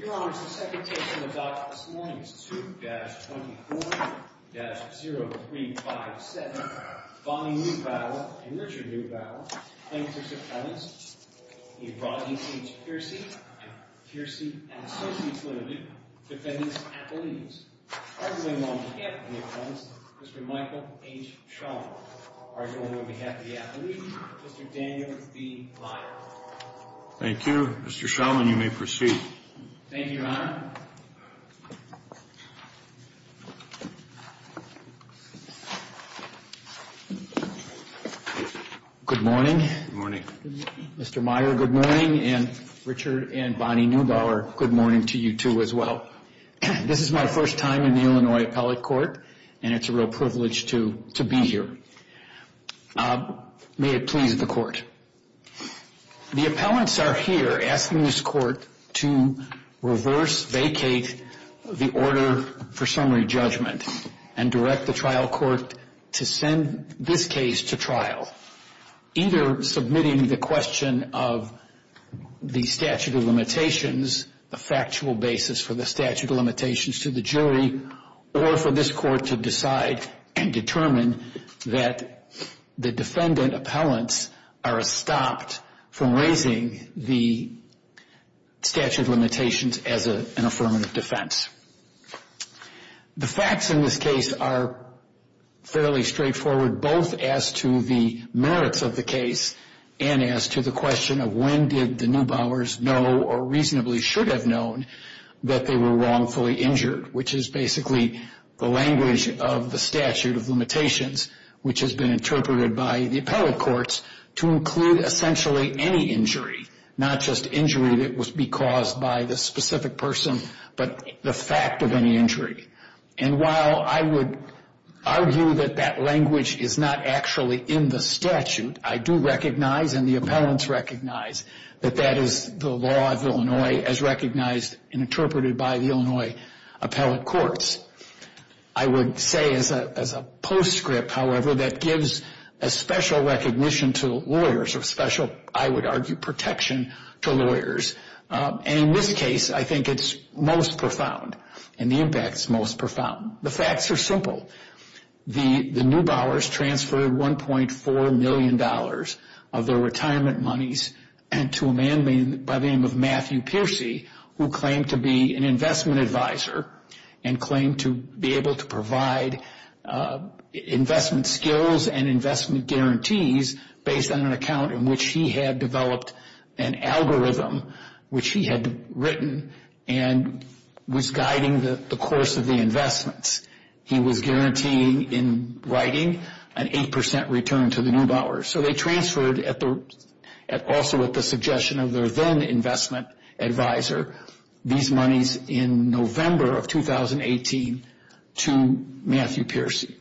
Your Honors, the second case in the docket this morning is 2-24-0357. Bonnie Neubauer and Richard Neubauer, plaintiffs' appellants. We brought in H. Piercy and Piercy and Associates Ltd., defendants' appellees. Arguing on behalf of the appellants, Mr. Michael H. Shulman. Arguing on behalf of the appellees, Mr. Daniel B. Lyon. Thank you. Mr. Shulman, you may proceed. Thank you, Your Honor. Good morning. Good morning. Mr. Meyer, good morning. And Richard and Bonnie Neubauer, good morning to you two as well. This is my first time in the Illinois Appellate Court, and it's a real privilege to be here. May it please the Court. The appellants are here asking this Court to reverse vacate the order for summary judgment and direct the trial court to send this case to trial, either submitting the question of the statute of limitations, the factual basis for the statute of limitations to the jury, or for this Court to decide and determine that the defendant appellants are stopped from raising the statute of limitations as an affirmative defense. The facts in this case are fairly straightforward, both as to the merits of the case and as to the question of when did the Neubauers know or reasonably should have known that they were wrongfully injured, which is basically the language of the statute of limitations, which has been interpreted by the appellate courts to include essentially any injury, not just injury that would be caused by the specific person, but the fact of any injury. And while I would argue that that language is not actually in the statute, I do recognize and the appellants recognize that that is the law of Illinois as recognized and interpreted by the Illinois appellate courts. I would say as a postscript, however, that gives a special recognition to lawyers or a special, I would argue, protection to lawyers. And in this case, I think it's most profound and the impact is most profound. The facts are simple. The Neubauers transferred $1.4 million of their retirement monies to a man by the name of Matthew Peercy, who claimed to be an investment advisor and claimed to be able to provide investment skills and investment guarantees based on an account in which he had developed an algorithm, which he had written and was guiding the course of the investments. He was guaranteeing in writing an 8% return to the Neubauers. So they transferred also at the suggestion of their then investment advisor these monies in November of 2018 to Matthew Peercy.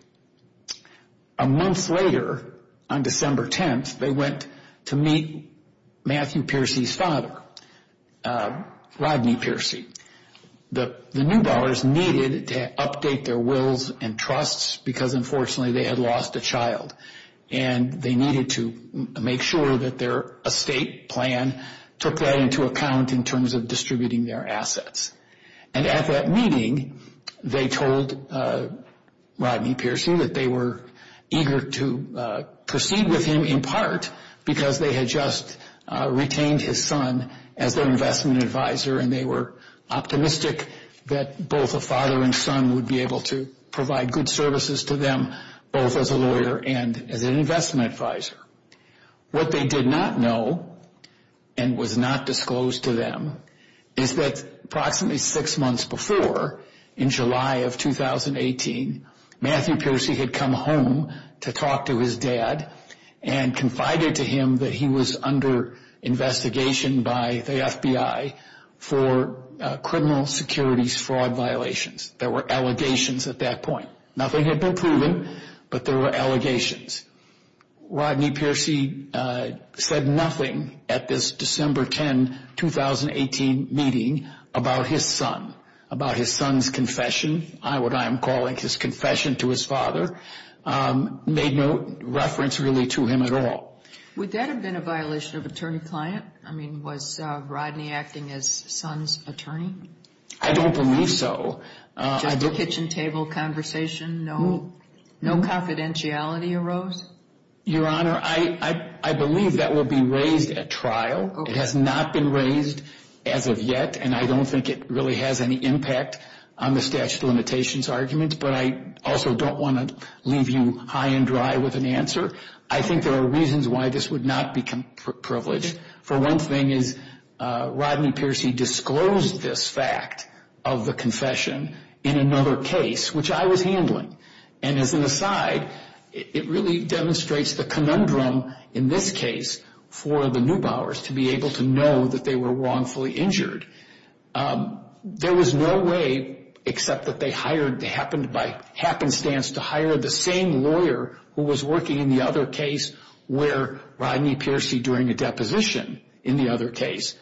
A month later, on December 10th, they went to meet Matthew Peercy's father, Rodney Peercy. The Neubauers needed to update their wills and trusts because, unfortunately, they had lost a child, and they needed to make sure that their estate plan took that into account in terms of distributing their assets. And at that meeting, they told Rodney Peercy that they were eager to proceed with him, in part because they had just retained his son as their investment advisor and they were optimistic that both a father and son would be able to provide good services to them both as a lawyer and as an investment advisor. What they did not know and was not disclosed to them is that approximately six months before, in July of 2018, Matthew Peercy had come home to talk to his dad and confided to him that he was under investigation by the FBI for criminal securities fraud violations. There were allegations at that point. Nothing had been proven, but there were allegations. Rodney Peercy said nothing at this December 10, 2018 meeting about his son, about his son's confession, what I am calling his confession to his father, made no reference really to him at all. Would that have been a violation of attorney-client? I mean, was Rodney acting as son's attorney? I don't believe so. Just a kitchen table conversation? No confidentiality arose? Your Honor, I believe that will be raised at trial. It has not been raised as of yet and I don't think it really has any impact on the statute of limitations argument, but I also don't want to leave you high and dry with an answer. I think there are reasons why this would not be privileged. For one thing is Rodney Peercy disclosed this fact of the confession in another case, which I was handling, and as an aside, it really demonstrates the conundrum in this case for the Neubauers to be able to know that they were wrongfully injured. There was no way except that they happened by happenstance to hire the same lawyer who was working in the other case where Rodney Peercy during a deposition in the other case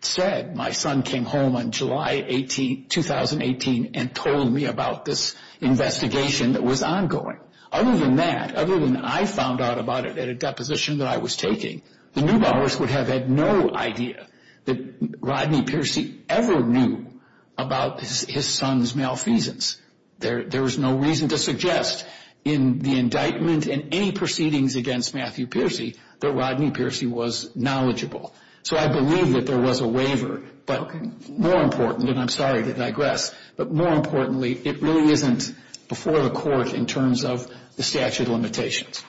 said, my son came home on July 18, 2018, and told me about this investigation that was ongoing. Other than that, other than I found out about it at a deposition that I was taking, the Neubauers would have had no idea that Rodney Peercy ever knew about his son's malfeasance. There is no reason to suggest in the indictment and any proceedings against Matthew Peercy that Rodney Peercy was knowledgeable. So I believe that there was a waiver, but more important, and I'm sorry to digress, but more importantly, it really isn't before the court in terms of the statute of limitations.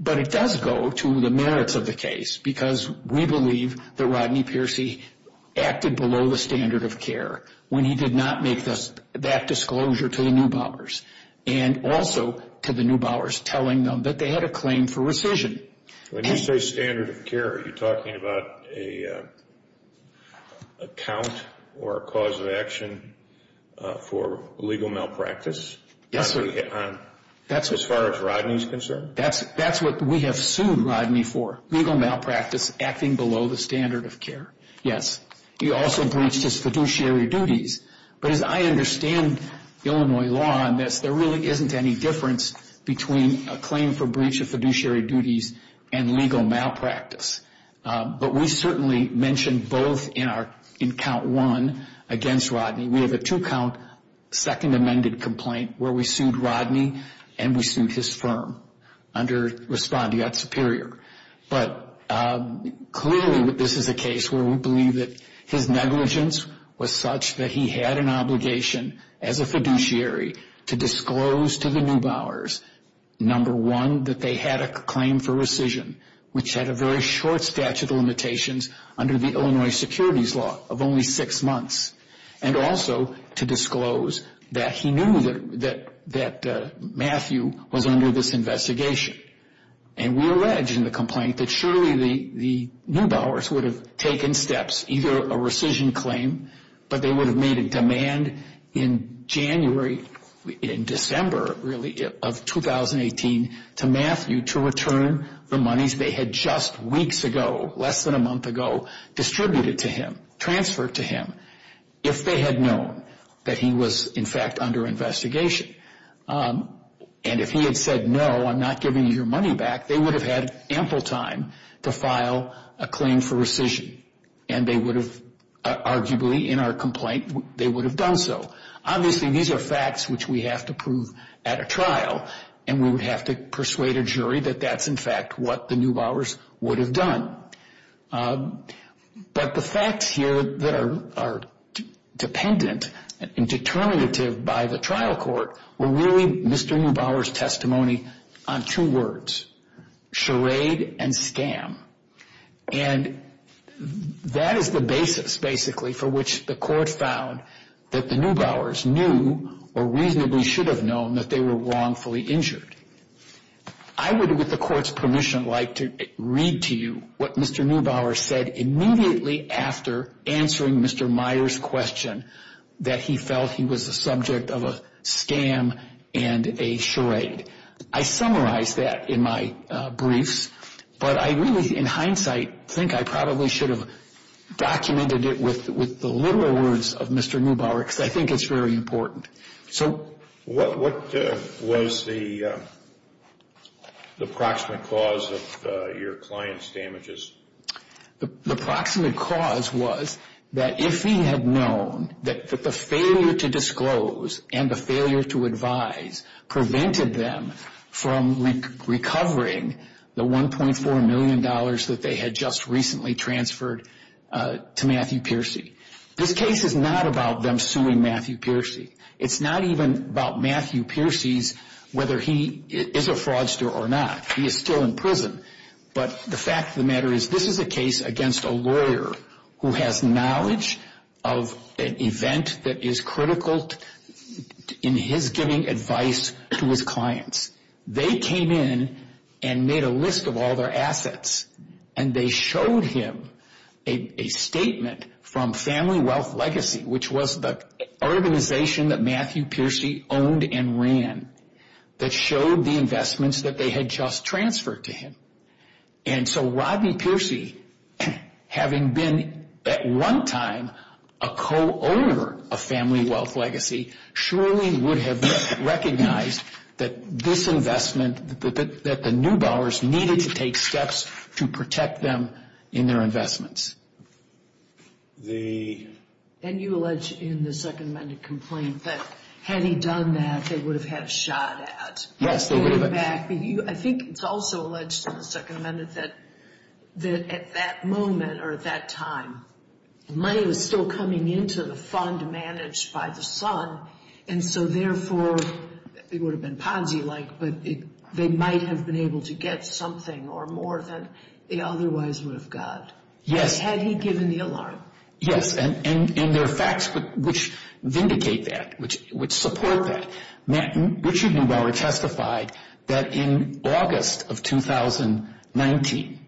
But it does go to the merits of the case because we believe that Rodney Peercy acted below the standard of care when he did not make that disclosure to the Neubauers, and also to the Neubauers telling them that they had a claim for rescission. When you say standard of care, are you talking about an account or a cause of action for legal malpractice? Yes, sir. As far as Rodney's concerned? That's what we have sued Rodney for, legal malpractice, acting below the standard of care, yes. He also breached his fiduciary duties. But as I understand Illinois law on this, there really isn't any difference between a claim for breach of fiduciary duties and legal malpractice. But we certainly mentioned both in count one against Rodney. We have a two-count second amended complaint where we sued Rodney and we sued his firm under respondeat superior. But clearly this is a case where we believe that his negligence was such that he had an obligation as a fiduciary to disclose to the Neubauers, number one, that they had a claim for rescission, which had a very short statute of limitations under the Illinois securities law of only six months, and also to disclose that he knew that Matthew was under this investigation. And we allege in the complaint that surely the Neubauers would have taken steps, either a rescission claim, but they would have made a demand in January, in December, really, of 2018, to Matthew to return the monies they had just weeks ago, less than a month ago, distributed to him, transferred to him, if they had known that he was in fact under investigation. And if he had said, no, I'm not giving you your money back, they would have had ample time to file a claim for rescission. And they would have, arguably, in our complaint, they would have done so. Obviously these are facts which we have to prove at a trial, and we would have to persuade a jury that that's in fact what the Neubauers would have done. But the facts here that are dependent and determinative by the trial court were really Mr. Neubauer's testimony on two words, charade and scam. And that is the basis, basically, for which the court found that the Neubauers knew, or reasonably should have known, that they were wrongfully injured. I would, with the court's permission, like to read to you what Mr. Neubauer said immediately after answering Mr. Myers' question, that he felt he was the subject of a scam and a charade. I summarized that in my briefs, but I really, in hindsight, think I probably should have documented it with the literal words of Mr. Neubauer, because I think it's very important. What was the proximate cause of your client's damages? The proximate cause was that if he had known that the failure to disclose and the failure to advise prevented them from recovering the $1.4 million that they had just recently transferred to Matthew Piercy. This case is not about them suing Matthew Piercy. It's not even about Matthew Piercy's whether he is a fraudster or not. He is still in prison, but the fact of the matter is this is a case against a lawyer who has knowledge of an event that is critical in his giving advice to his clients. They came in and made a list of all their assets, and they showed him a statement from Family Wealth Legacy, which was the organization that Matthew Piercy owned and ran, that showed the investments that they had just transferred to him. So Rodney Piercy, having been at one time a co-owner of Family Wealth Legacy, surely would have recognized that this investment, that the Neubauers needed to take steps to protect them in their investments. And you allege in the Second Amendment complaint that had he done that, they would have had a shot at getting back. I think it's also alleged in the Second Amendment that at that moment or at that time, money was still coming into the fund managed by the son, and so therefore it would have been Ponzi-like, but they might have been able to get something or more than they otherwise would have got. Yes. Had he given the alarm. Yes, and there are facts which vindicate that, which support that. Richard Neubauer testified that in August of 2019,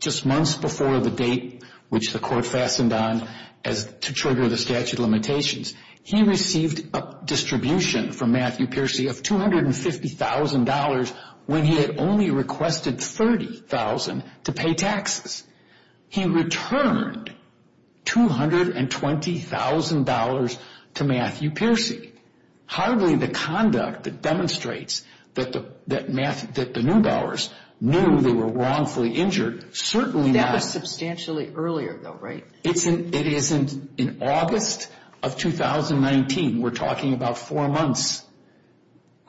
just months before the date which the court fastened on to trigger the statute of limitations, he received a distribution from Matthew Piercy of $250,000 when he had only requested $30,000 to pay taxes. He returned $220,000 to Matthew Piercy. Hardly the conduct that demonstrates that the Neubauers knew they were wrongfully injured. That was substantially earlier though, right? It is in August of 2019. We're talking about four months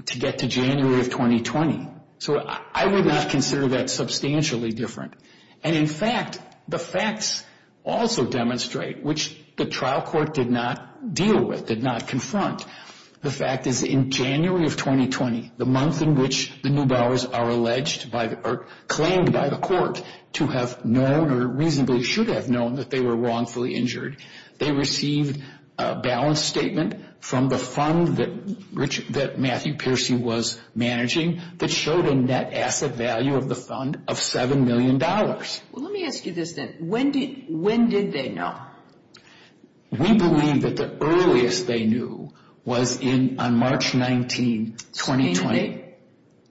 to get to January of 2020. So I would not consider that substantially different. And, in fact, the facts also demonstrate, which the trial court did not deal with, did not confront, the fact is in January of 2020, the month in which the Neubauers are alleged or claimed by the court to have known or reasonably should have known that they were wrongfully injured. They received a balance statement from the fund that Matthew Piercy was managing that showed a net asset value of the fund of $7 million. Well, let me ask you this then. When did they know? We believe that the earliest they knew was on March 19, 2020. Subpoena date?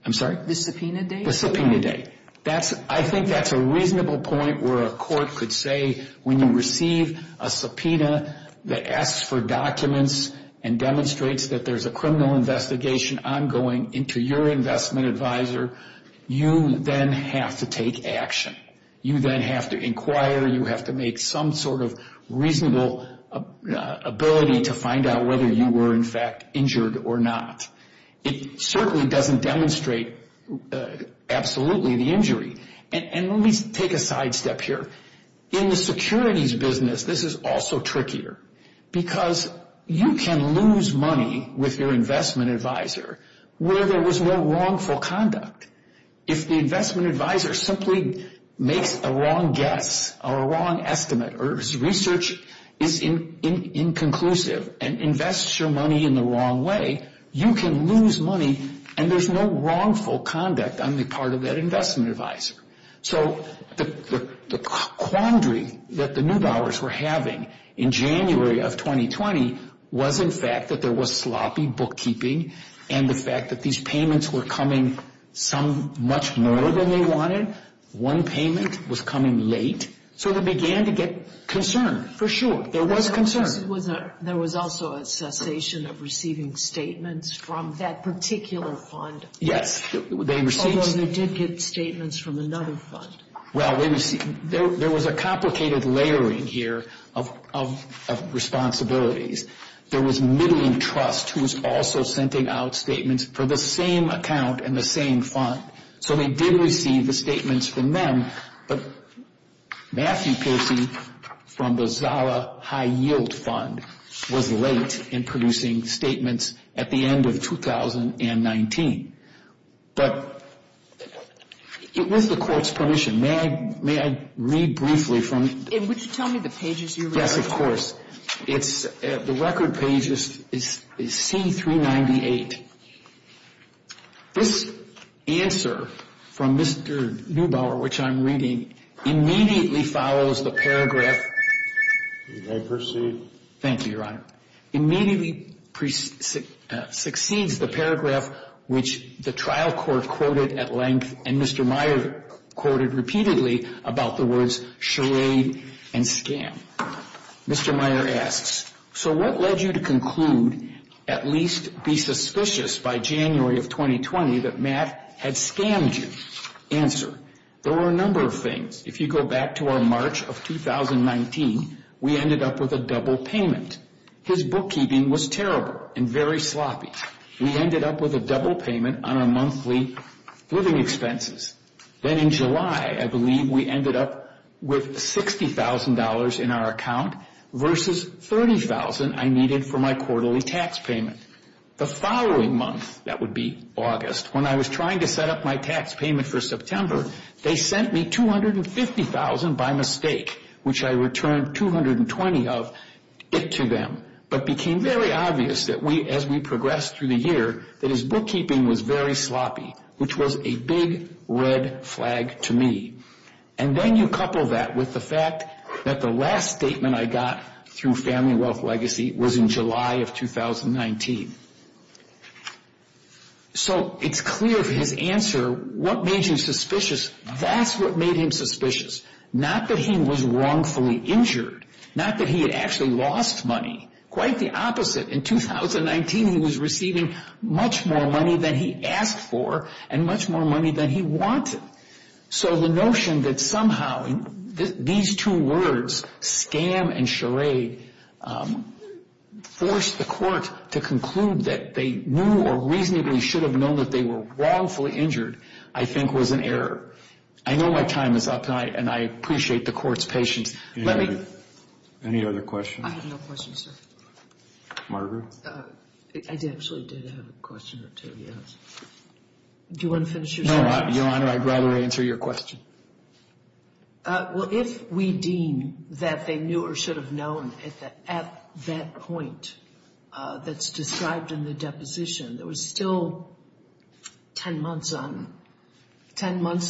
I'm sorry? The subpoena date? The subpoena date. I think that's a reasonable point where a court could say when you receive a subpoena that asks for documents and demonstrates that there's a criminal investigation ongoing into your investment advisor, you then have to take action. You then have to inquire. You have to make some sort of reasonable ability to find out whether you were, in fact, injured or not. It certainly doesn't demonstrate absolutely the injury. And let me take a sidestep here. In the securities business, this is also trickier because you can lose money with your investment advisor where there was no wrongful conduct. If the investment advisor simply makes a wrong guess or a wrong estimate or his research is inconclusive and invests your money in the wrong way, you can lose money, and there's no wrongful conduct on the part of that investment advisor. So the quandary that the Neubauers were having in January of 2020 was, in fact, that there was sloppy bookkeeping and the fact that these payments were coming some much more than they wanted. One payment was coming late. So they began to get concerned, for sure. There was concern. There was also a cessation of receiving statements from that particular fund. Although they did get statements from another fund. Well, there was a complicated layering here of responsibilities. There was Middling Trust, who was also sending out statements for the same account and the same fund. So they did receive the statements from them. But Matthew Casey from the Zara High Yield Fund was late in producing statements at the end of 2019. But it was the court's permission. May I read briefly from it? Would you tell me the pages you're reading? Yes, of course. The record page is C398. This answer from Mr. Neubauer, which I'm reading, immediately follows the paragraph. You may proceed. Thank you, Your Honor. Immediately succeeds the paragraph which the trial court quoted at length and Mr. Meyer quoted repeatedly about the words charade and scam. Mr. Meyer asks, so what led you to conclude, at least be suspicious by January of 2020, that Matt had scammed you? Answer, there were a number of things. If you go back to our March of 2019, we ended up with a double payment. His bookkeeping was terrible and very sloppy. We ended up with a double payment on our monthly living expenses. Then in July, I believe we ended up with $60,000 in our account versus $30,000 I needed for my quarterly tax payment. The following month, that would be August, when I was trying to set up my tax payment for September, they sent me $250,000 by mistake, which I returned $220,000 of it to them. But it became very obvious as we progressed through the year that his bookkeeping was very sloppy, which was a big red flag to me. And then you couple that with the fact that the last statement I got through Family Wealth Legacy was in July of 2019. So it's clear from his answer, what made you suspicious, that's what made him suspicious. Not that he was wrongfully injured, not that he had actually lost money, quite the opposite. In 2019, he was receiving much more money than he asked for and much more money than he wanted. So the notion that somehow these two words, scam and charade, forced the court to conclude that they knew or reasonably should have known that they were wrongfully injured, I think was an error. I know my time is up, and I appreciate the court's patience. Let me... Any other questions? I have no questions, sir. Margaret? I actually did have a question or two, yes. Do you want to finish your sentence? No, Your Honor, I'd rather answer your question. Well, if we deem that they knew or should have known at that point that's described in the deposition, there was still 10 months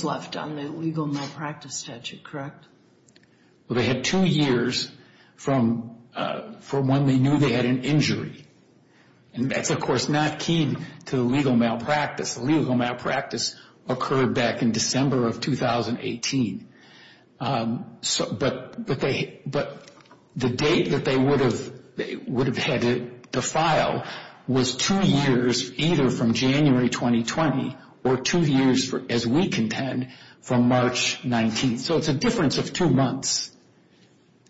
left on the legal malpractice statute, correct? Well, they had two years from when they knew they had an injury. And that's, of course, not key to the legal malpractice. The legal malpractice occurred back in December of 2018. But the date that they would have had to file was two years either from January 2020 or two years, as we contend, from March 19th. So it's a difference of two months.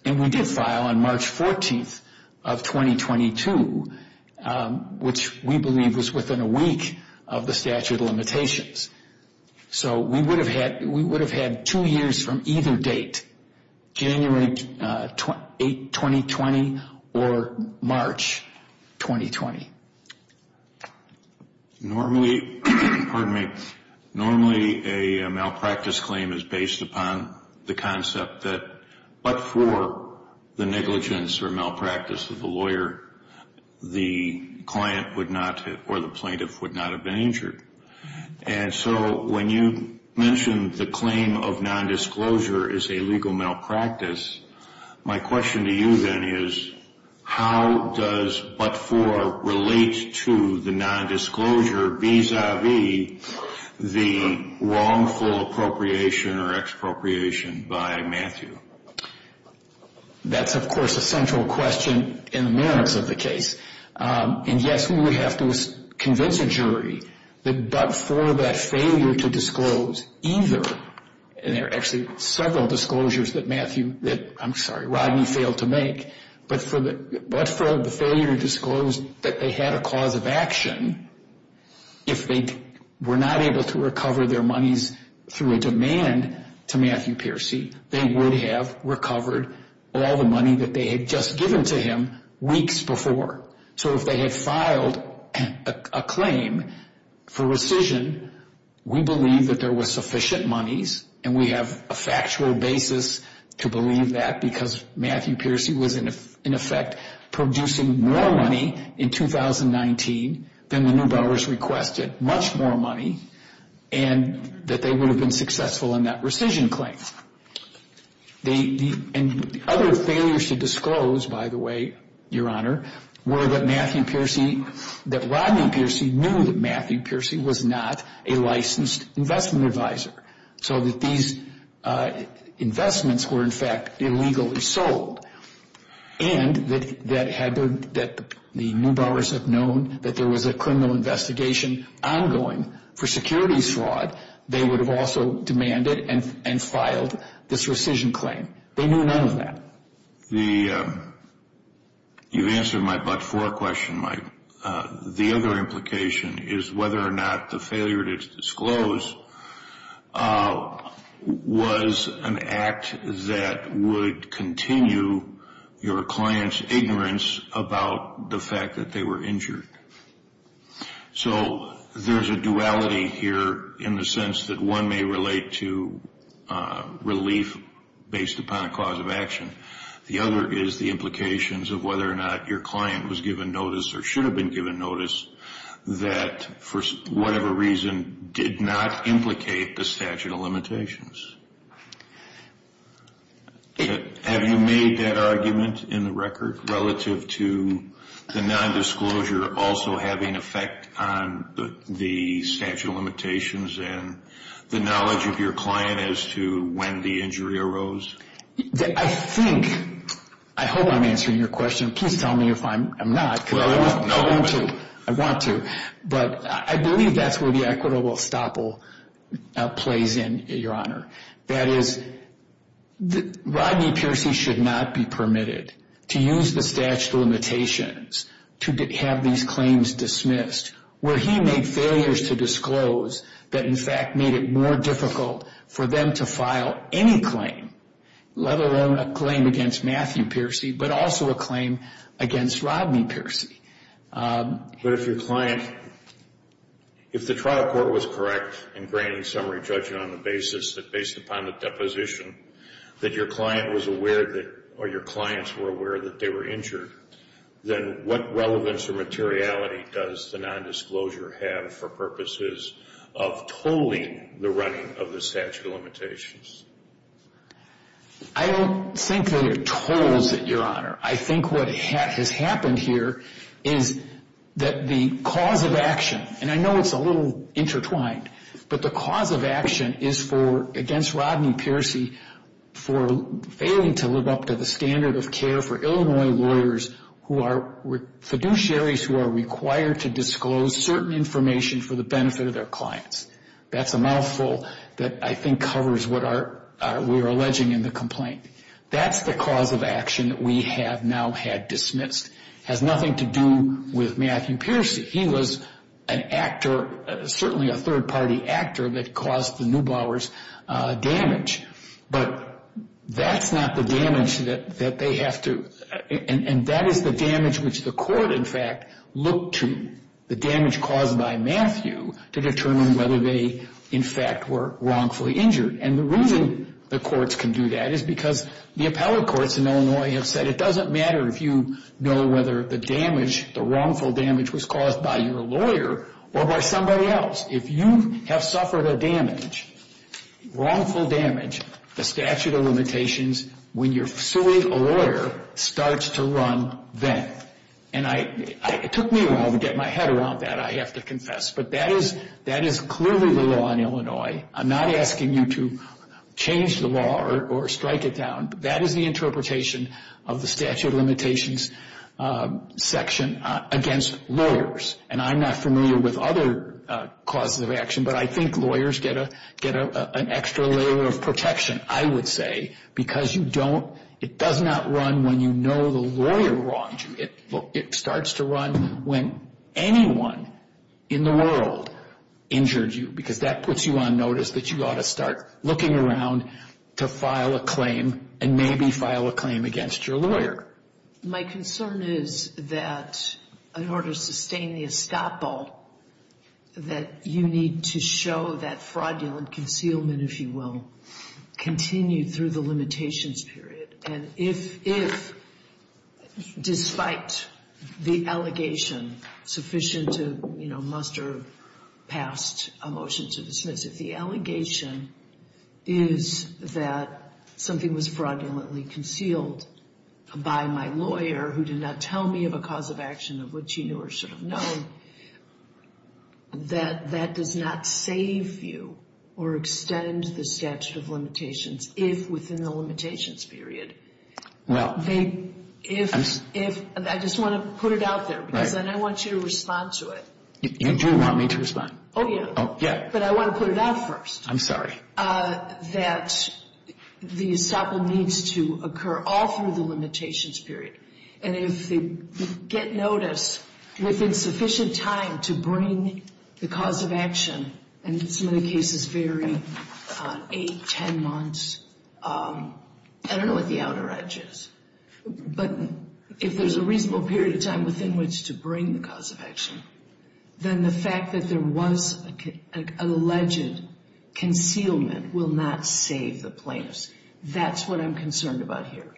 And we did file on March 14th of 2022, which we believe was within a week of the statute of limitations. So we would have had two years from either date, January 2020 or March 2020. Normally, a malpractice claim is based upon the concept that but for the negligence or malpractice of the lawyer, the client would not, or the plaintiff, would not have been injured. And so when you mentioned the claim of nondisclosure is a legal malpractice, my question to you then is how does but for relate to the nondisclosure vis-a-vis the wrongful appropriation or expropriation by Matthew? That's, of course, a central question in the merits of the case. And yes, we would have to convince a jury that but for that failure to disclose either, and there are actually several disclosures that Matthew, that I'm sorry, Rodney failed to make, but for the failure to disclose that they had a cause of action, if they were not able to recover their monies through a demand to Matthew Piercy, they would have recovered all the money that they had just given to him weeks before. So if they had filed a claim for rescission, we believe that there was sufficient monies, and we have a factual basis to believe that because Matthew Piercy was in effect producing more money in 2019 than the Neubauers requested, much more money, and that they would have been successful in that rescission claim. And other failures to disclose, by the way, Your Honor, were that Matthew Piercy, that Rodney Piercy knew that Matthew Piercy was not a licensed investment advisor, so that these investments were in fact illegally sold. And that the Neubauers have known that there was a criminal investigation ongoing for securities fraud, they would have also demanded and filed this rescission claim. They knew none of that. You've answered my but for question, Mike. The other implication is whether or not the failure to disclose was an act that would continue your client's ignorance about the fact that they were injured. So there's a duality here in the sense that one may relate to relief based upon a cause of action. The other is the implications of whether or not your client was given notice or should have been given notice that for whatever reason did not implicate the statute of limitations. Have you made that argument in the record relative to the nondisclosure also having effect on the statute of limitations and the knowledge of your client as to when the injury arose? I think, I hope I'm answering your question. Please tell me if I'm not, because I want to. But I believe that's where the equitable estoppel plays in, Your Honor. That is, Rodney Piercy should not be permitted to use the statute of limitations to have these claims dismissed where he made failures to disclose that in fact made it more difficult for them to file any claim, let alone a claim against Matthew Piercy, but also a claim against Rodney Piercy. But if your client, if the trial court was correct in granting summary judgment on the basis that based upon the deposition that your client was aware that, or your clients were aware that they were injured, then what relevance or materiality does the nondisclosure have for purposes of tolling the running of the statute of limitations? I don't think that it tolls it, Your Honor. I think what has happened here is that the cause of action, and I know it's a little intertwined, but the cause of action is against Rodney Piercy for failing to live up to the standard of care for Illinois lawyers who are fiduciaries who are required to disclose certain information for the benefit of their clients. That's a mouthful that I think covers what we are alleging in the complaint. That's the cause of action that we have now had dismissed. It has nothing to do with Matthew Piercy. He was an actor, certainly a third-party actor that caused the Neubauer's damage. But that's not the damage that they have to, and that is the damage which the court, in fact, looked to the damage caused by Matthew to determine whether they, in fact, were wrongfully injured. And the reason the courts can do that is because the appellate courts in Illinois have said it doesn't matter if you know whether the damage, the wrongful damage, was caused by your lawyer or by somebody else. If you have suffered a damage, wrongful damage, the statute of limitations, when you're suing a lawyer, starts to run then. And it took me a while to get my head around that, I have to confess. But that is clearly the law in Illinois. I'm not asking you to change the law or strike it down. That is the interpretation of the statute of limitations section against lawyers. And I'm not familiar with other causes of action, but I think lawyers get an extra layer of protection, I would say, because it does not run when you know the lawyer wronged you. It starts to run when anyone in the world injured you, because that puts you on notice that you ought to start looking around to file a claim and maybe file a claim against your lawyer. My concern is that in order to sustain the estoppel, that you need to show that fraudulent concealment, if you will, continue through the limitations period. And if, despite the allegation sufficient to muster past a motion to dismiss, if the allegation is that something was fraudulently concealed by my lawyer, who did not tell me of a cause of action of which he knew or should have known, that that does not save you or extend the statute of limitations if within the limitations period. I just want to put it out there, because then I want you to respond to it. You do want me to respond? Oh, yeah. Oh, yeah. But I want to put it out first. I'm sorry. That the estoppel needs to occur all through the limitations period. And if they get notice within sufficient time to bring the cause of action, and some of the cases vary on eight, ten months, I don't know what the outer edge is, but if there's a reasonable period of time within which to bring the cause of action, then the fact that there was an alleged concealment will not save the plaintiffs. That's what I'm concerned about here.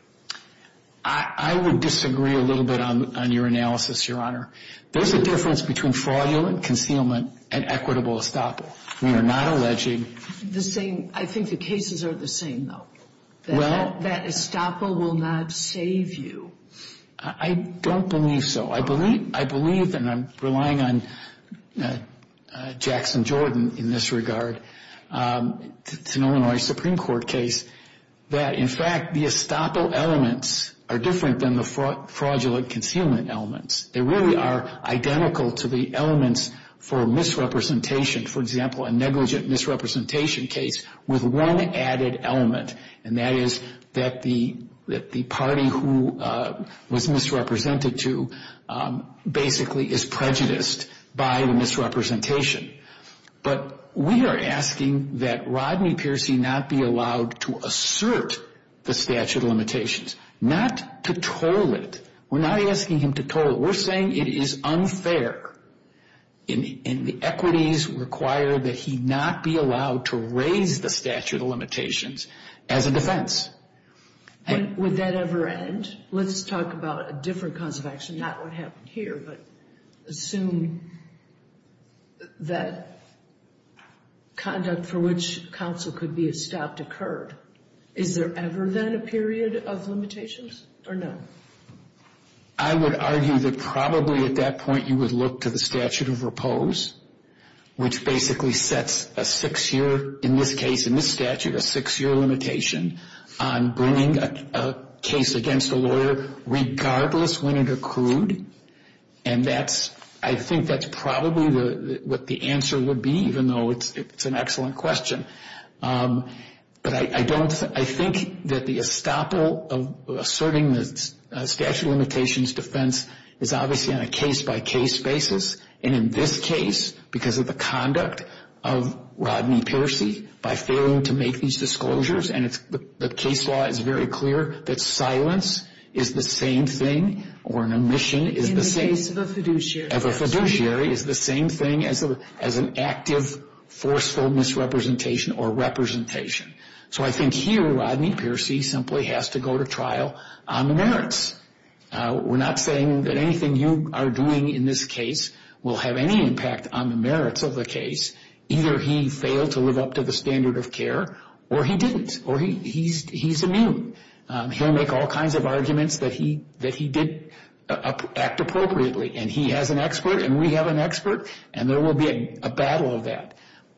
I would disagree a little bit on your analysis, Your Honor. There's a difference between fraudulent concealment and equitable estoppel. We are not alleging. I think the cases are the same, though, that estoppel will not save you. I don't believe so. I believe, and I'm relying on Jackson Jordan in this regard, it's an Illinois Supreme Court case, that in fact the estoppel elements are different than the fraudulent concealment elements. They really are identical to the elements for misrepresentation. For example, a negligent misrepresentation case with one added element, and that is that the party who was misrepresented to basically is prejudiced by the misrepresentation. But we are asking that Rodney Piercy not be allowed to assert the statute of limitations, not to toll it. We're not asking him to toll it. We're saying it is unfair, and the equities require that he not be allowed to raise the statute of limitations as a defense. And would that ever end? Let's talk about a different cause of action, not what happened here, but assume that conduct for which counsel could be estopped occurred. Is there ever then a period of limitations or no? I would argue that probably at that point you would look to the statute of repose, which basically sets a six-year, in this case, in this statute, a six-year limitation on bringing a case against a lawyer regardless when it accrued, and I think that's probably what the answer would be, even though it's an excellent question. But I think that the estoppel of asserting the statute of limitations defense is obviously on a case-by-case basis, and in this case, because of the conduct of Rodney Piercy, by failing to make these disclosures, and the case law is very clear that silence is the same thing, or an omission is the same thing. In the case of a fiduciary. Of a fiduciary is the same thing as an active, forceful misrepresentation or representation. So I think here Rodney Piercy simply has to go to trial on the merits. We're not saying that anything you are doing in this case will have any impact on the merits of the case. Either he failed to live up to the standard of care, or he didn't, or he's immune. He'll make all kinds of arguments that he did act appropriately, and he has an expert and we have an expert, and there will be a battle of that.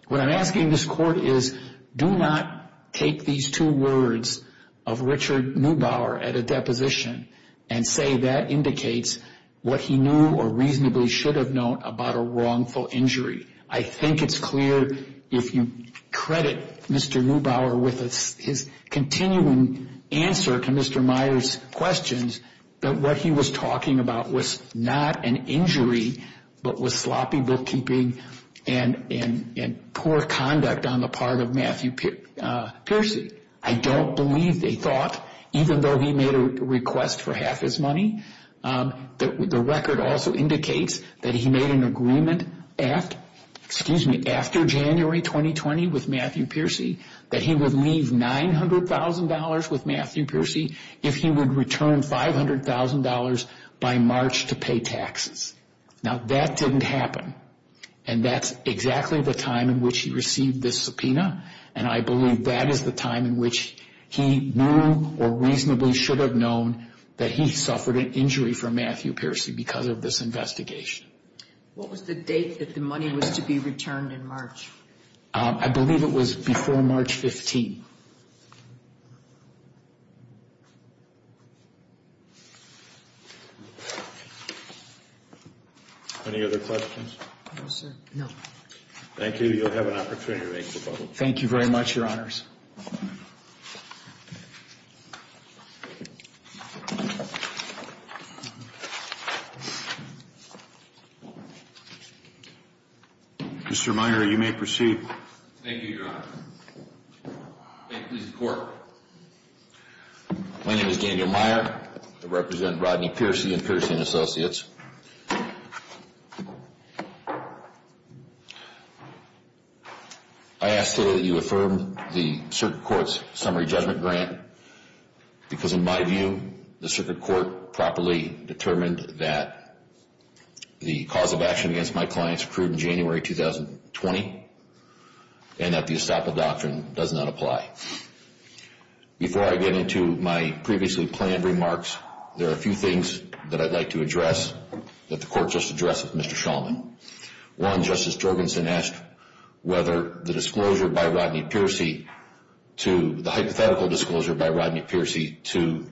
What I'm asking this court is, do not take these two words of Richard Neubauer at a deposition and say that indicates what he knew or reasonably should have known about a wrongful injury. I think it's clear, if you credit Mr. Neubauer with his continuing answer to Mr. Myers' questions, that what he was talking about was not an injury, but was sloppy bookkeeping and poor conduct on the part of Matthew Piercy. I don't believe they thought, even though he made a request for half his money, that the record also indicates that he made an agreement after January 2020 with Matthew Piercy, that he would leave $900,000 with Matthew Piercy if he would return $500,000 by March to pay taxes. Now, that didn't happen, and that's exactly the time in which he received this subpoena, and I believe that is the time in which he knew or reasonably should have known that he suffered an injury from Matthew Piercy because of this investigation. What was the date that the money was to be returned in March? I believe it was before March 15. Any other questions? No, sir. No. Thank you. You'll have an opportunity to make the public comment. Thank you very much, Your Honors. Mr. Meyer, you may proceed. Thank you, Your Honor. May it please the Court. My name is Daniel Meyer. I represent Rodney Piercy and Piercy & Associates. I ask that you affirm the subpoena. I affirm the Circuit Court's summary judgment grant because, in my view, the Circuit Court properly determined that the cause of action against my clients occurred in January 2020 and that the estoppel doctrine does not apply. Before I get into my previously planned remarks, there are a few things that I'd like to address that the Court just addressed with Mr. Shulman. One, Justice Jorgensen asked whether the disclosure by Rodney Piercy, the hypothetical disclosure by Rodney Piercy to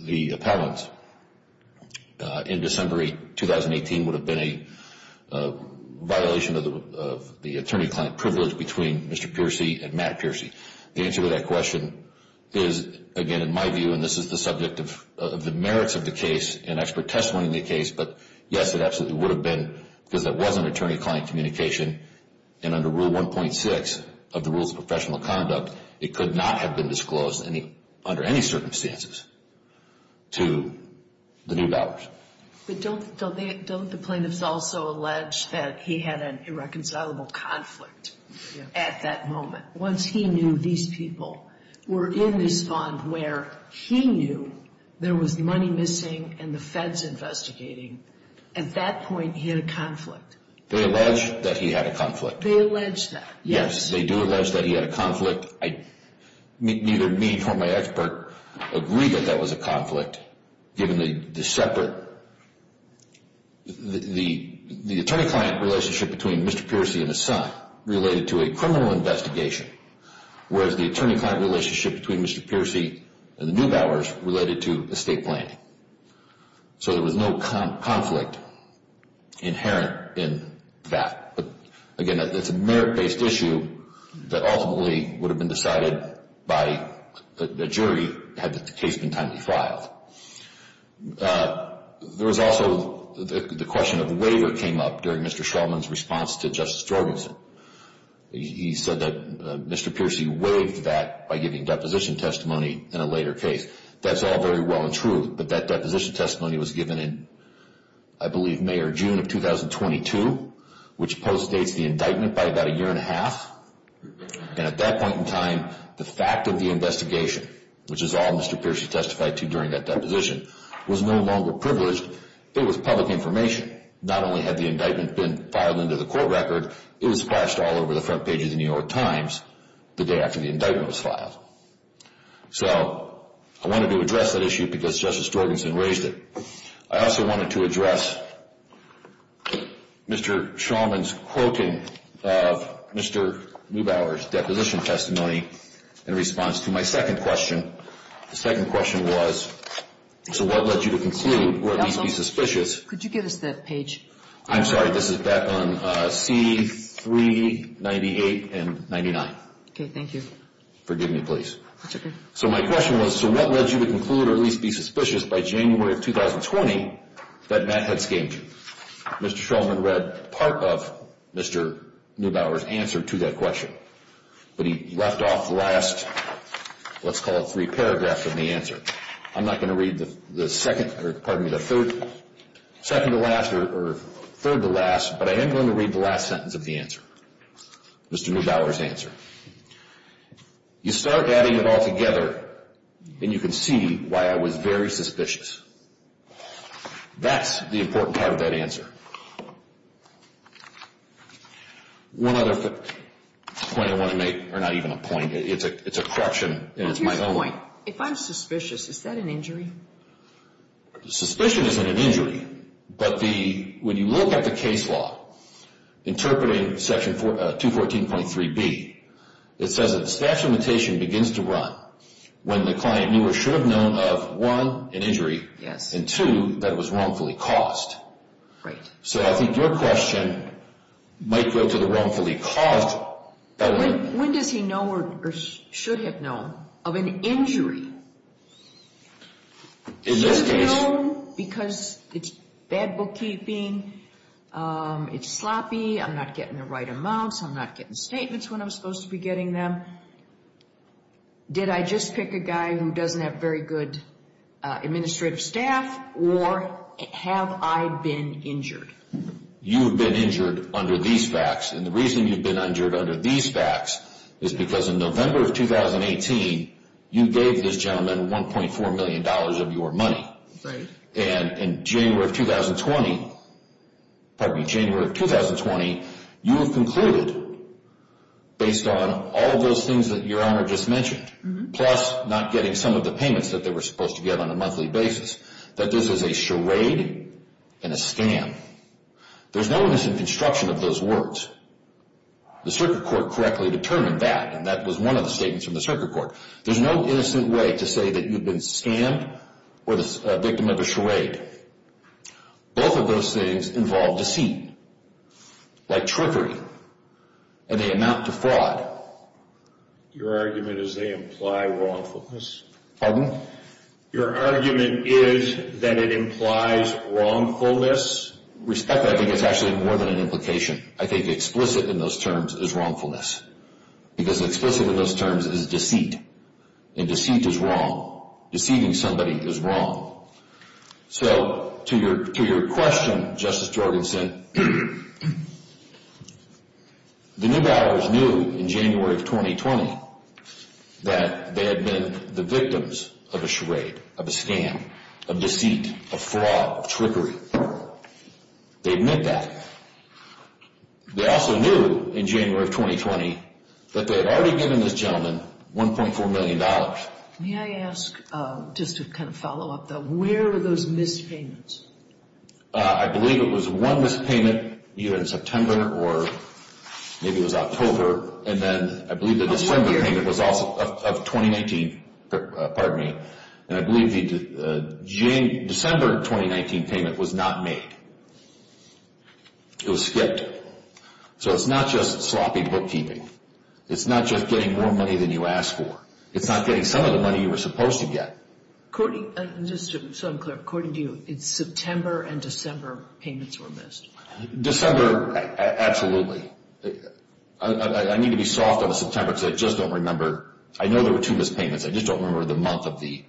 the appellants in December 2018, would have been a violation of the attorney-client privilege between Mr. Piercy and Matt Piercy. The answer to that question is, again, in my view, and this is the subject of the merits of the case and expert testimony in the case, but yes, it absolutely would have been because there was an attorney-client communication and under Rule 1.6 of the Rules of Professional Conduct, it could not have been disclosed under any circumstances to the new dollars. But don't the plaintiffs also allege that he had an irreconcilable conflict at that moment? Once he knew these people were in this fund where he knew there was money missing and the Feds investigating, at that point, he had a conflict. They allege that he had a conflict. They allege that. Yes, they do allege that he had a conflict. Neither me nor my expert agree that that was a conflict, given the separate, the attorney-client relationship between Mr. Piercy and his son related to a criminal investigation, whereas the attorney-client relationship between Mr. Piercy and the new dollars related to estate planning. So there was no conflict inherent in that. Again, it's a merit-based issue that ultimately would have been decided by the jury had the case been timely filed. There was also the question of the waiver came up during Mr. Shulman's response to Justice Jorgensen. He said that Mr. Piercy waived that by giving deposition testimony in a later case. That's all very well and true, but that deposition testimony was given in, I believe, May or June of 2022, which postdates the indictment by about a year and a half. And at that point in time, the fact of the investigation, which is all Mr. Piercy testified to during that deposition, was no longer privileged. It was public information. Not only had the indictment been filed into the court record, it was splashed all over the front page of the New York Times the day after the indictment was filed. So I wanted to address that issue because Justice Jorgensen raised it. I also wanted to address Mr. Shulman's quoting of Mr. Neubauer's deposition testimony in response to my second question. The second question was, so what led you to conclude, or at least be suspicious? Could you give us that page? I'm sorry. This is back on C398 and 99. Thank you. Forgive me, please. That's okay. So my question was, so what led you to conclude, or at least be suspicious, by January of 2020 that Matt had schemed? Mr. Shulman read part of Mr. Neubauer's answer to that question, but he left off last, let's call it three paragraphs of the answer. I'm not going to read the third to last, but I am going to read the last sentence of the answer, Mr. Neubauer's answer. You start adding it all together, and you can see why I was very suspicious. That's the important part of that answer. One other point I want to make, or not even a point, it's a correction, and it's my own. If I'm suspicious, is that an injury? Suspicion isn't an injury, but when you look at the case law, interpreting section 214.3b, it says that the statute of limitation begins to run when the client knew or should have known of, one, an injury, and, two, that it was wrongfully caused. So I think your question might go to the wrongfully caused. When does he know or should have known of an injury? Does he know because it's bad bookkeeping, it's sloppy, I'm not getting the right amounts, I'm not getting statements when I'm supposed to be getting them? Did I just pick a guy who doesn't have very good administrative staff, or have I been injured? You've been injured under these facts, and the reason you've been injured under these facts is because in November of 2018, you gave this gentleman $1.4 million of your money. And in January of 2020, pardon me, January of 2020, you have concluded, based on all of those things that your honor just mentioned, plus not getting some of the payments that they were supposed to get on a monthly basis, that this is a charade and a scam. There's no innocent construction of those words. The circuit court correctly determined that, and that was one of the statements from the circuit court. There's no innocent way to say that you've been scammed or a victim of a charade. Both of those things involve deceit, like trickery, and they amount to fraud. Your argument is they imply wrongfulness. Pardon? Your argument is that it implies wrongfulness. Respectfully, I think it's actually more than an implication. I think explicit in those terms is wrongfulness, because explicit in those terms is deceit, and deceit is wrong. Deceiving somebody is wrong. So to your question, Justice Jorgensen, the New Dallars knew in January of 2020 that they had been the victims of a charade, of a scam, of deceit, of fraud, of trickery. They admit that. They also knew in January of 2020 that they had already given this gentleman $1.4 million. May I ask, just to kind of follow up, though, where were those missed payments? I believe it was one missed payment either in September or maybe it was October, and then I believe the December payment was also of 2019. Pardon me. And I believe the December 2019 payment was not made. It was skipped. So it's not just sloppy bookkeeping. It's not just getting more money than you ask for. It's not getting some of the money you were supposed to get. Just so I'm clear, according to you, it's September and December payments were missed. December, absolutely. I need to be soft on the September because I just don't remember. I know there were two missed payments. I just don't remember the month of the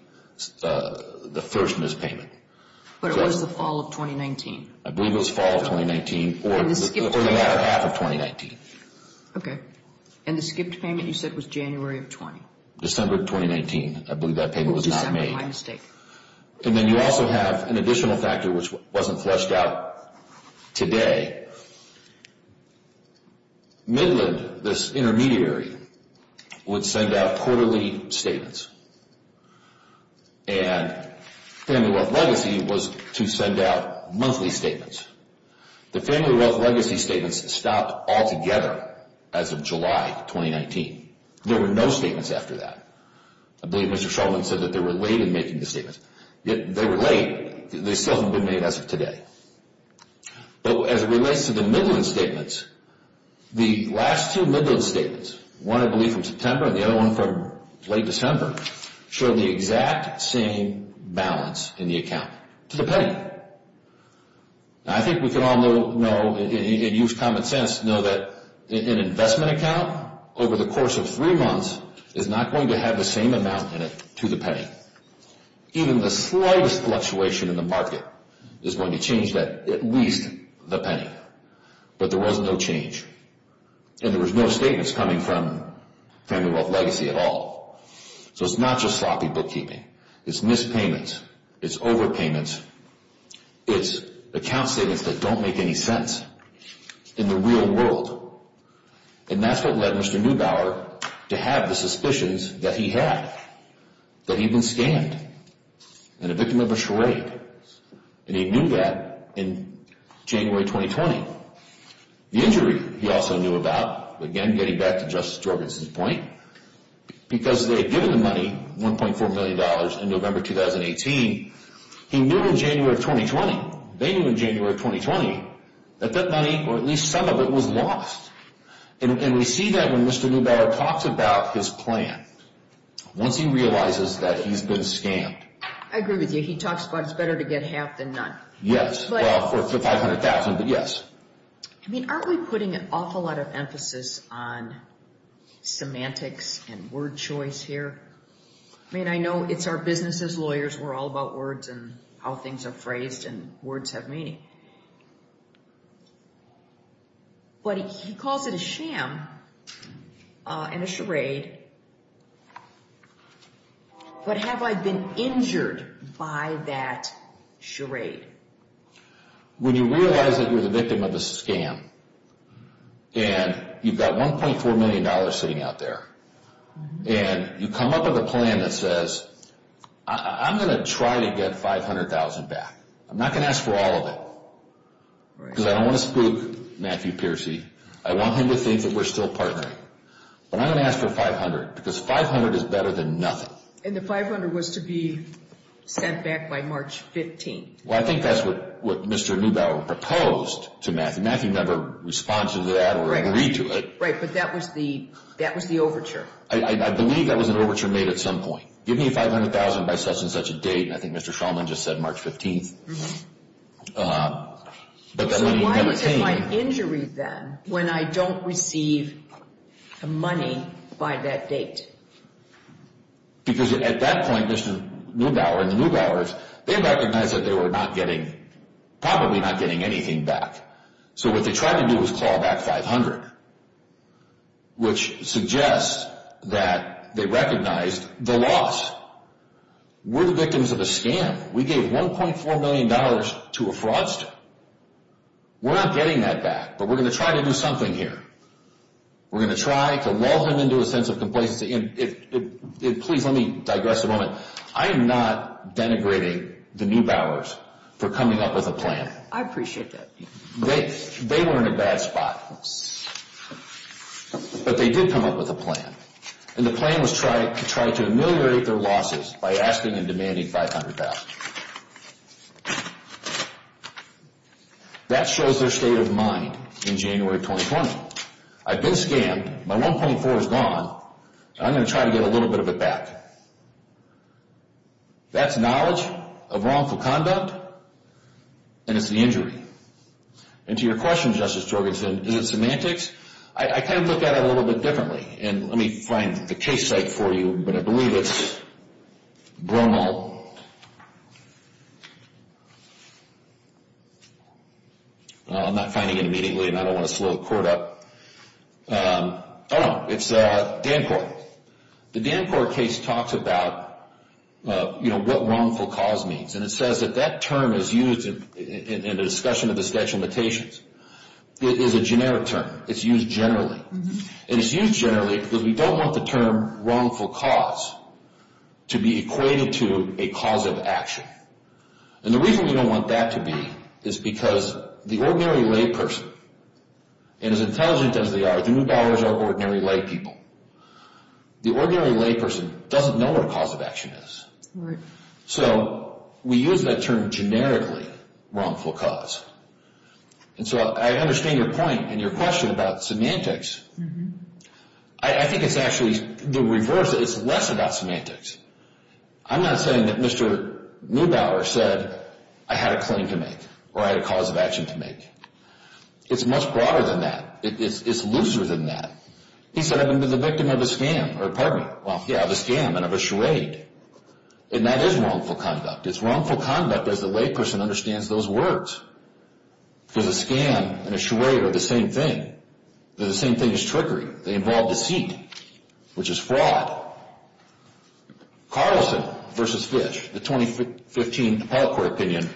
first missed payment. But it was the fall of 2019. I believe it was fall of 2019 or the latter half of 2019. Okay. And the skipped payment you said was January of 20? December of 2019. I believe that payment was not made. December, my mistake. And then you also have an additional factor which wasn't fleshed out today. Midland, this intermediary, would send out quarterly statements. And Family Wealth Legacy was to send out monthly statements. The Family Wealth Legacy statements stopped altogether as of July 2019. There were no statements after that. I believe Mr. Shulman said that they were late in making the statements. They were late. They still haven't been made as of today. But as it relates to the Midland statements, the last two Midland statements, one I believe from September and the other one from late December, showed the exact same balance in the account to the penny. I think we can all know and use common sense to know that an investment account over the course of three months is not going to have the same amount in it to the penny. Even the slightest fluctuation in the market is going to change at least the penny. But there was no change. And there was no statements coming from Family Wealth Legacy at all. So it's not just sloppy bookkeeping. It's missed payments. It's overpayments. It's account statements that don't make any sense in the real world. And that's what led Mr. Neubauer to have the suspicions that he had, that he'd been scammed and a victim of a charade. And he knew that in January 2020. The injury he also knew about, again getting back to Justice Jorgensen's point, because they had given him money, $1.4 million, in November 2018. He knew in January of 2020. They knew in January of 2020 that that money, or at least some of it, was lost. And we see that when Mr. Neubauer talks about his plan. Once he realizes that he's been scammed. I agree with you. He talks about it's better to get half than none. Yes. Well, for $500,000, but yes. I mean, aren't we putting an awful lot of emphasis on semantics and word choice here? I mean, I know it's our business as lawyers. We're all about words and how things are phrased, and words have meaning. But he calls it a sham and a charade. But have I been injured by that charade? When you realize that you're the victim of a scam, and you've got $1.4 million sitting out there, and you come up with a plan that says, I'm going to try to get $500,000 back. I'm not going to ask for all of it. Because I don't want to spook Matthew Piercy. I want him to think that we're still partnering. But I don't ask for $500,000, because $500,000 is better than nothing. And the $500,000 was to be sent back by March 15th. Well, I think that's what Mr. Neubauer proposed to Matthew. Matthew never responds to that or agreed to it. Right, but that was the overture. I believe that was an overture made at some point. Give me $500,000 by such and such a date, and I think Mr. Shulman just said March 15th. So why was it my injury then when I don't receive the money by that date? Because at that point, Mr. Neubauer and the Neubauers, they recognized that they were probably not getting anything back. So what they tried to do was call back $500,000, which suggests that they recognized the loss. We're the victims of a scam. We gave $1.4 million to a fraudster. We're not getting that back, but we're going to try to do something here. We're going to try to lull him into a sense of complacency. Please let me digress a moment. I am not denigrating the Neubauers for coming up with a plan. I appreciate that. They were in a bad spot. But they did come up with a plan, and the plan was to try to ameliorate their losses by asking and demanding $500,000. That shows their state of mind in January of 2020. I've been scammed. My $1.4 is gone. I'm going to try to get a little bit of it back. That's knowledge of wrongful conduct, and it's the injury. And to your question, Justice Jorgensen, is it semantics? I kind of look at it a little bit differently, and let me find the case site for you, but I believe it's Bromo. I'm not finding it immediately, and I don't want to slow the court up. Oh, no, it's Dancort. The Dancort case talks about what wrongful cause means, and it says that that term is used in the discussion of the sketch limitations. It is a generic term. It's used generally. And it's used generally because we don't want the term wrongful cause to be equated to a cause of action. And the reason we don't want that to be is because the ordinary layperson, and as intelligent as they are, the Mubauer's are ordinary laypeople. The ordinary layperson doesn't know what a cause of action is. So we use that term generically, wrongful cause. And so I understand your point and your question about semantics. I think it's actually the reverse. It's less about semantics. I'm not saying that Mr. Mubauer said I had a claim to make or I had a cause of action to make. It's much broader than that. It's looser than that. He said I've been the victim of a scam, or pardon me, well, yeah, of a scam and of a charade. And that is wrongful conduct. It's wrongful conduct as the layperson understands those words. Because a scam and a charade are the same thing. They're the same thing as trickery. They involve deceit, which is fraud. Carlson v. Fish, the 2015 appellate court opinion,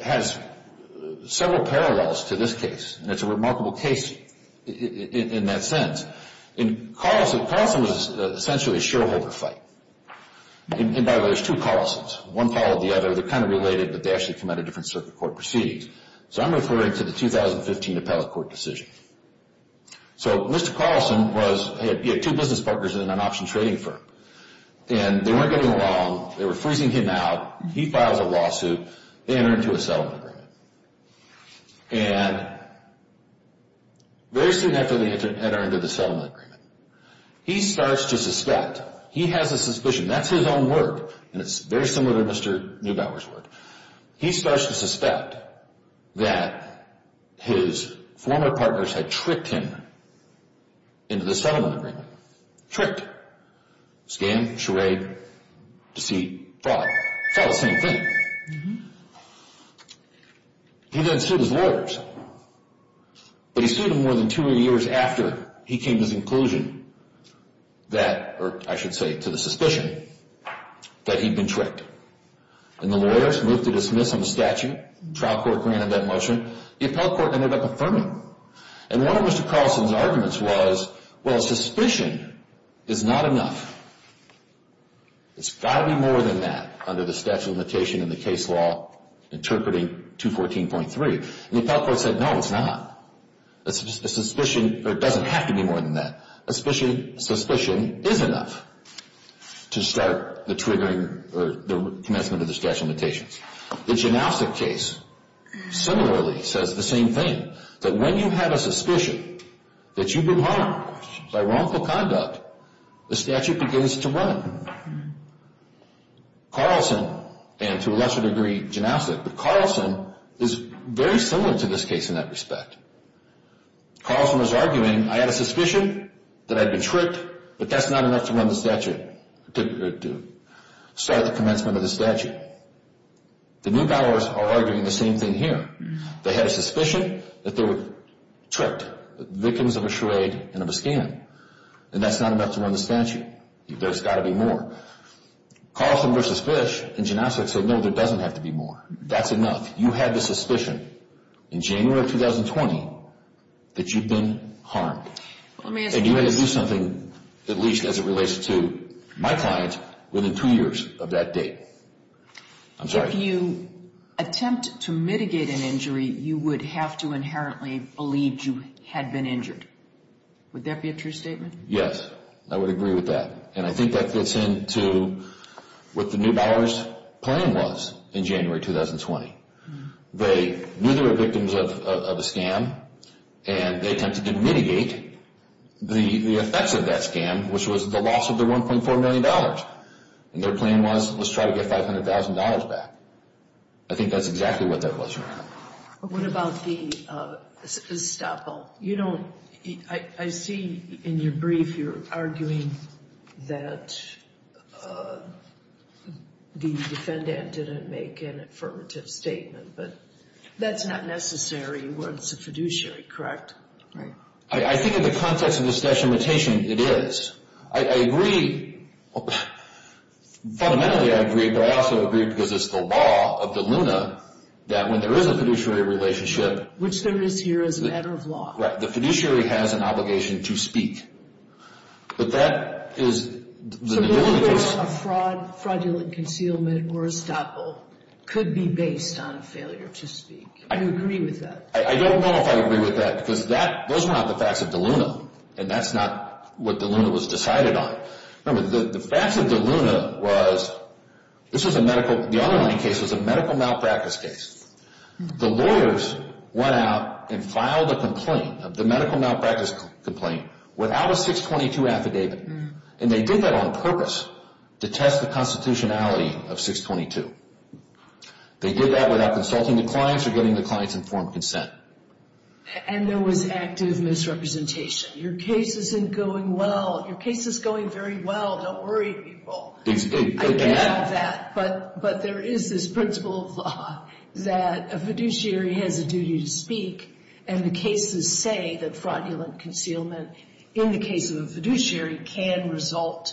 has several parallels to this case. And it's a remarkable case in that sense. And Carlson was essentially a shareholder fight. And by the way, there's two Carlsons. One followed the other. They're kind of related, but they actually come out of different circuit court proceedings. So I'm referring to the 2015 appellate court decision. So Mr. Carlson was, he had two business partners in an option trading firm. And they weren't getting along. They were freezing him out. He files a lawsuit. They enter into a settlement agreement. And very soon after they enter into the settlement agreement, he starts to suspect. He has a suspicion. That's his own work. And it's very similar to Mr. Neubauer's work. He starts to suspect that his former partners had tricked him into the settlement agreement. Scam, charade, deceit, fraud. It's all the same thing. He then sued his lawyers. But he sued them more than two years after he came to his inclusion. That, or I should say, to the suspicion that he'd been tricked. And the lawyers moved to dismiss on the statute. Trial court granted that motion. The appellate court ended up affirming. And one of Mr. Carlson's arguments was, well, suspicion is not enough. It's got to be more than that under the statute of limitation in the case law interpreting 214.3. And the appellate court said, no, it's not. A suspicion, or it doesn't have to be more than that. A suspicion is enough to start the triggering or the commencement of the statute of limitations. The Janowski case similarly says the same thing. That when you have a suspicion that you've been harmed by wrongful conduct, the statute begins to run. Carlson, and to a lesser degree Janowski, but Carlson is very similar to this case in that respect. Carlson was arguing, I had a suspicion that I'd been tricked. But that's not enough to run the statute, to start the commencement of the statute. The New Bowers are arguing the same thing here. They had a suspicion that they were tricked, victims of a charade and of a scam. And that's not enough to run the statute. There's got to be more. Carlson v. Fish and Janowski said, no, there doesn't have to be more. That's enough. You had the suspicion in January of 2020 that you'd been harmed. And you had to do something, at least as it relates to my client, within two years of that date. I'm sorry. If you attempt to mitigate an injury, you would have to inherently believe you had been injured. Would that be a true statement? Yes. I would agree with that. And I think that fits into what the New Bowers' plan was in January 2020. They knew they were victims of a scam, and they attempted to mitigate the effects of that scam, which was the loss of their $1.4 million. And their plan was, let's try to get $500,000 back. I think that's exactly what that was. What about the estoppel? I see in your brief you're arguing that the defendant didn't make an affirmative statement, but that's not necessary when it's a fiduciary, correct? Right. I think in the context of the statute of limitations, it is. I agree. Fundamentally, I agree, but I also agree because it's the law of DELUNA that when there is a fiduciary relationship— Which there is here as a matter of law. Right. The fiduciary has an obligation to speak. But that is the New Bowers' case. So going back on a fraudulent concealment or estoppel could be based on failure to speak. Do you agree with that? I don't know if I agree with that because those are not the facts of DELUNA, and that's not what DELUNA was decided on. Remember, the facts of DELUNA was—the underlying case was a medical malpractice case. The lawyers went out and filed a complaint, the medical malpractice complaint, without a 622 affidavit. And they did that on purpose to test the constitutionality of 622. They did that without consulting the clients or getting the clients' informed consent. And there was active misrepresentation. Your case isn't going well. Your case is going very well. Don't worry, people. I get that. But there is this principle of law that a fiduciary has a duty to speak, and the cases say that fraudulent concealment in the case of a fiduciary can result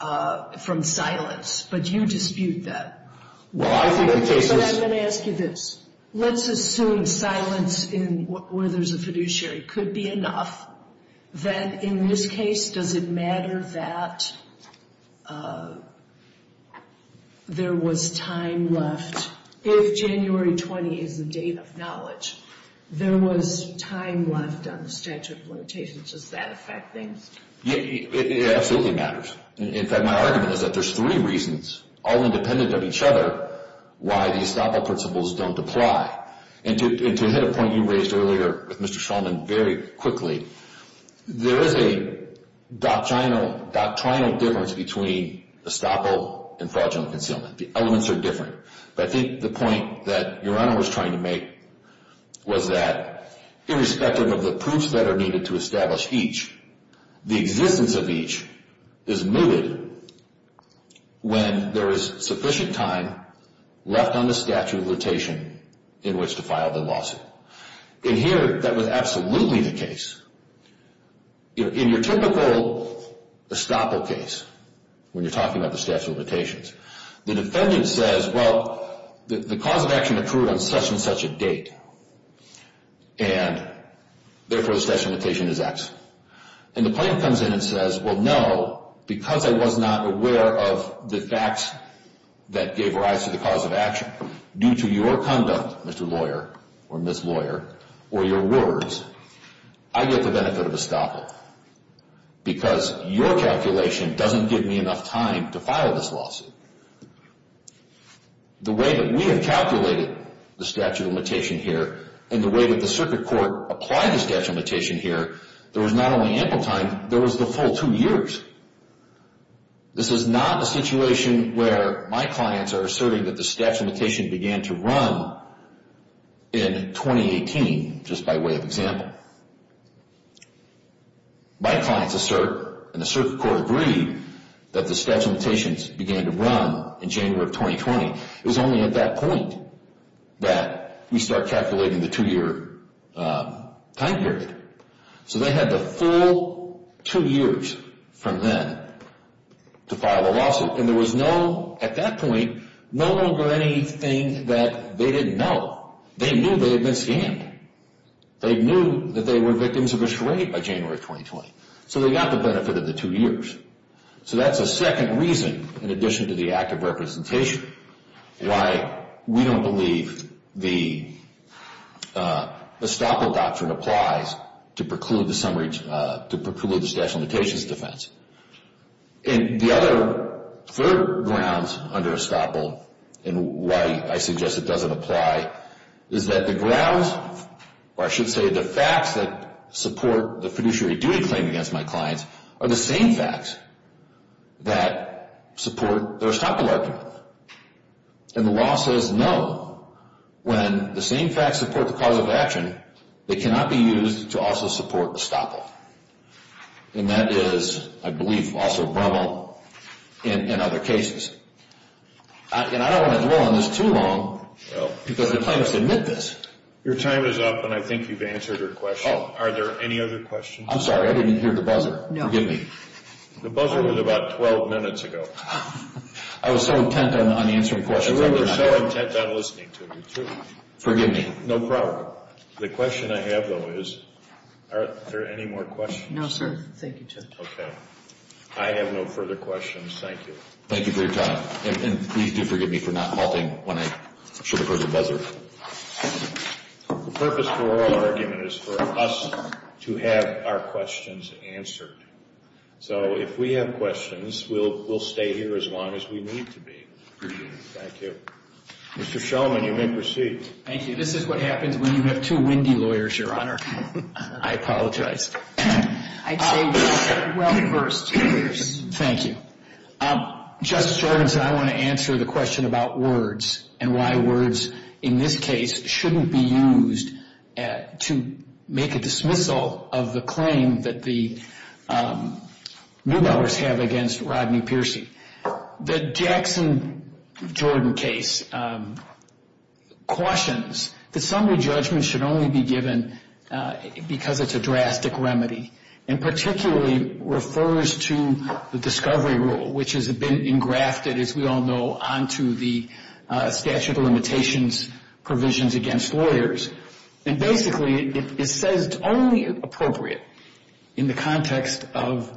from silence. But you dispute that. But I'm going to ask you this. Let's assume silence where there's a fiduciary could be enough. Then in this case, does it matter that there was time left? If January 20 is the date of knowledge, there was time left on the statute of limitations. Does that affect things? It absolutely matters. In fact, my argument is that there's three reasons, all independent of each other, why the estoppel principles don't apply. And to hit a point you raised earlier with Mr. Shulman very quickly, there is a doctrinal difference between estoppel and fraudulent concealment. The elements are different. But I think the point that Your Honor was trying to make was that, irrespective of the proofs that are needed to establish each, the existence of each is mooted when there is sufficient time left on the statute of limitation in which to file the lawsuit. And here, that was absolutely the case. In your typical estoppel case, when you're talking about the statute of limitations, the defendant says, well, the cause of action occurred on such and such a date, and therefore the statute of limitation is X. And the plaintiff comes in and says, well, no, because I was not aware of the facts that gave rise to the cause of action, due to your conduct, Mr. Lawyer, or Ms. Lawyer, or your words, I get the benefit of estoppel because your calculation doesn't give me enough time to file this lawsuit. The way that we have calculated the statute of limitation here, and the way that the circuit court applied the statute of limitation here, there was not only ample time, there was the full two years. This is not a situation where my clients are asserting that the statute of limitation began to run in 2018, just by way of example. Now, my clients assert, and the circuit court agreed, that the statute of limitations began to run in January of 2020. It was only at that point that we start calculating the two-year time period. So they had the full two years from then to file the lawsuit. And there was no, at that point, no longer anything that they didn't know. They knew they had been scammed. They knew that they were victims of a charade by January of 2020. So they got the benefit of the two years. So that's a second reason, in addition to the act of representation, why we don't believe the estoppel doctrine applies to preclude the statute of limitations defense. And the other third grounds under estoppel, and why I suggest it doesn't apply, is that the grounds, or I should say the facts that support the fiduciary duty claim against my clients, are the same facts that support the estoppel argument. And the law says no. When the same facts support the cause of action, they cannot be used to also support estoppel. And that is, I believe, also a problem in other cases. And I don't want to dwell on this too long, because the plaintiffs admit this. Your time is up, and I think you've answered your question. Are there any other questions? I'm sorry, I didn't hear the buzzer. No. Forgive me. The buzzer was about 12 minutes ago. I was so intent on answering questions. I was so intent on listening to you, too. Forgive me. No problem. The question I have, though, is are there any more questions? No, sir. Thank you, Judge. Okay. I have no further questions. Thank you. Thank you for your time. And please do forgive me for not halting when I should have heard the buzzer. The purpose for oral argument is for us to have our questions answered. So if we have questions, we'll stay here as long as we need to be. Appreciate it. Thank you. Mr. Shulman, you may proceed. Thank you. This is what happens when you have two windy lawyers, Your Honor. I apologize. I'd say well first. Thank you. Justice Jordan said I want to answer the question about words and why words in this case shouldn't be used to make a dismissal of the claim that the Newbellers have against Rodney Piercy. The Jackson-Jordan case cautions that summary judgment should only be given because it's a drastic remedy and particularly refers to the discovery rule, which has been engrafted, as we all know, onto the statute of limitations provisions against lawyers. And basically it says it's only appropriate in the context of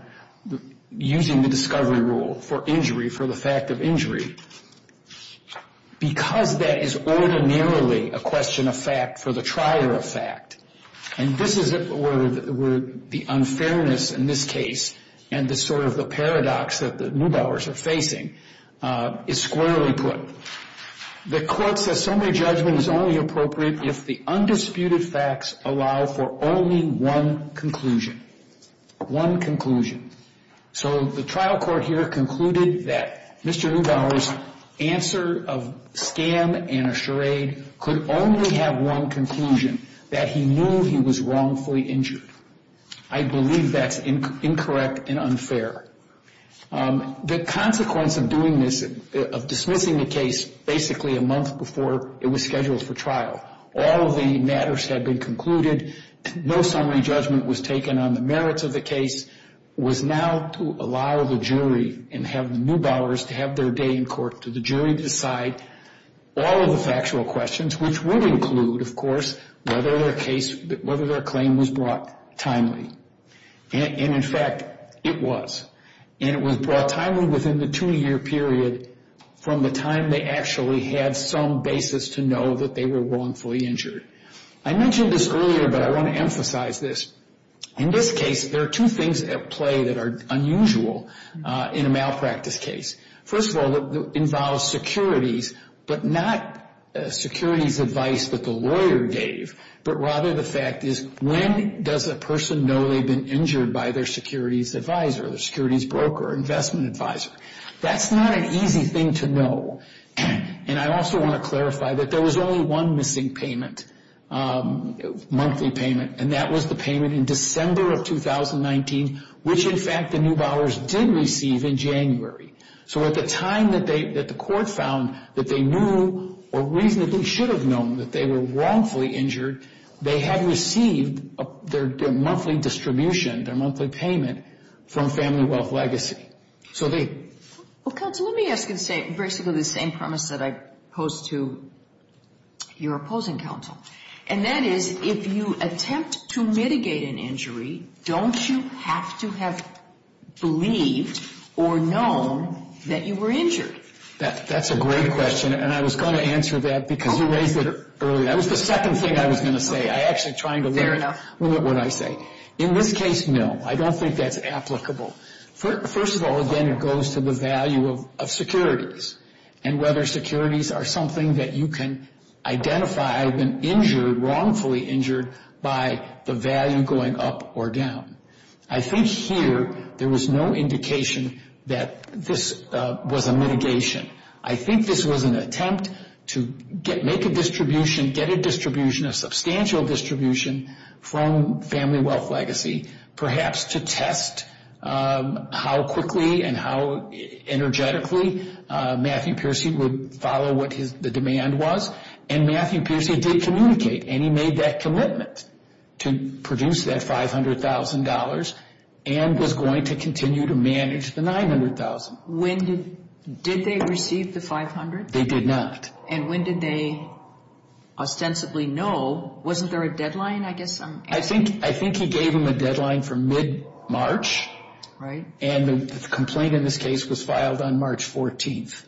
using the discovery rule for injury, for the fact of injury, because that is ordinarily a question of fact for the trier of fact. And this is where the unfairness in this case and the sort of the paradox that the Newbellers are facing is squarely put. The court says summary judgment is only appropriate if the undisputed facts allow for only one conclusion. One conclusion. So the trial court here concluded that Mr. Newbeller's answer of scam and a charade could only have one conclusion, that he knew he was wrongfully injured. I believe that's incorrect and unfair. The consequence of doing this, of dismissing the case, basically a month before it was scheduled for trial, all of the matters had been concluded, no summary judgment was taken on the merits of the case, was now to allow the jury and have the Newbellers to have their day in court to the jury to decide all of the factual questions, which would include, of course, whether their claim was brought timely. And, in fact, it was. And it was brought timely within the two-year period from the time they actually had some basis to know that they were wrongfully injured. I mentioned this earlier, but I want to emphasize this. In this case, there are two things at play that are unusual in a malpractice case. First of all, it involves securities, but not securities advice that the lawyer gave, but rather the fact is, when does a person know they've been injured by their securities advisor, their securities broker, investment advisor? That's not an easy thing to know. And I also want to clarify that there was only one missing payment, monthly payment, and that was the payment in December of 2019, which, in fact, the Newbellers did receive in January. So at the time that the court found that they knew or reasonably should have known that they were wrongfully injured, they had received their monthly distribution, their monthly payment from Family Wealth Legacy. Well, counsel, let me ask you basically the same premise that I posed to your opposing counsel, and that is, if you attempt to mitigate an injury, don't you have to have believed or known that you were injured? That's a great question, and I was going to answer that because you raised it earlier. That was the second thing I was going to say. I actually tried to limit what I say. In this case, no, I don't think that's applicable. First of all, again, it goes to the value of securities and whether securities are something that you can identify, I've been injured, wrongfully injured, by the value going up or down. I think here there was no indication that this was a mitigation. I think this was an attempt to make a distribution, get a distribution, a substantial distribution from Family Wealth Legacy, perhaps to test how quickly and how energetically Matthew Peercy would follow what the demand was. And Matthew Peercy did communicate, and he made that commitment to produce that $500,000 and was going to continue to manage the $900,000. Did they receive the $500,000? They did not. And when did they ostensibly know? Wasn't there a deadline, I guess I'm asking? I think he gave them a deadline for mid-March, and the complaint in this case was filed on March 14th.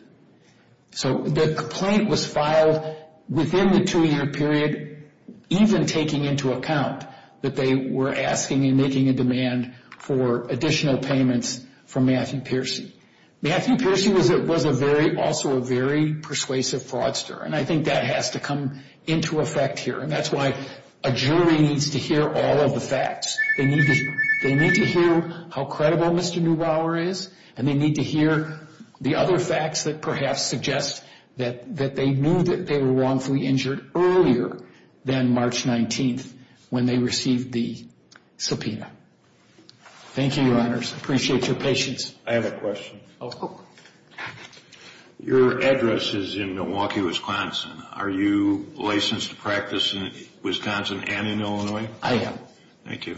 So the complaint was filed within the two-year period, even taking into account that they were asking and making a demand for additional payments from Matthew Peercy. Matthew Peercy was also a very persuasive fraudster, and I think that has to come into effect here. And that's why a jury needs to hear all of the facts. They need to hear how credible Mr. Neubauer is, and they need to hear the other facts that perhaps suggest that they knew that they were wrongfully injured earlier than March 19th when they received the subpoena. Thank you, Your Honors. I appreciate your patience. I have a question. Your address is in Milwaukee, Wisconsin. Are you licensed to practice in Wisconsin and in Illinois? I am. Thank you.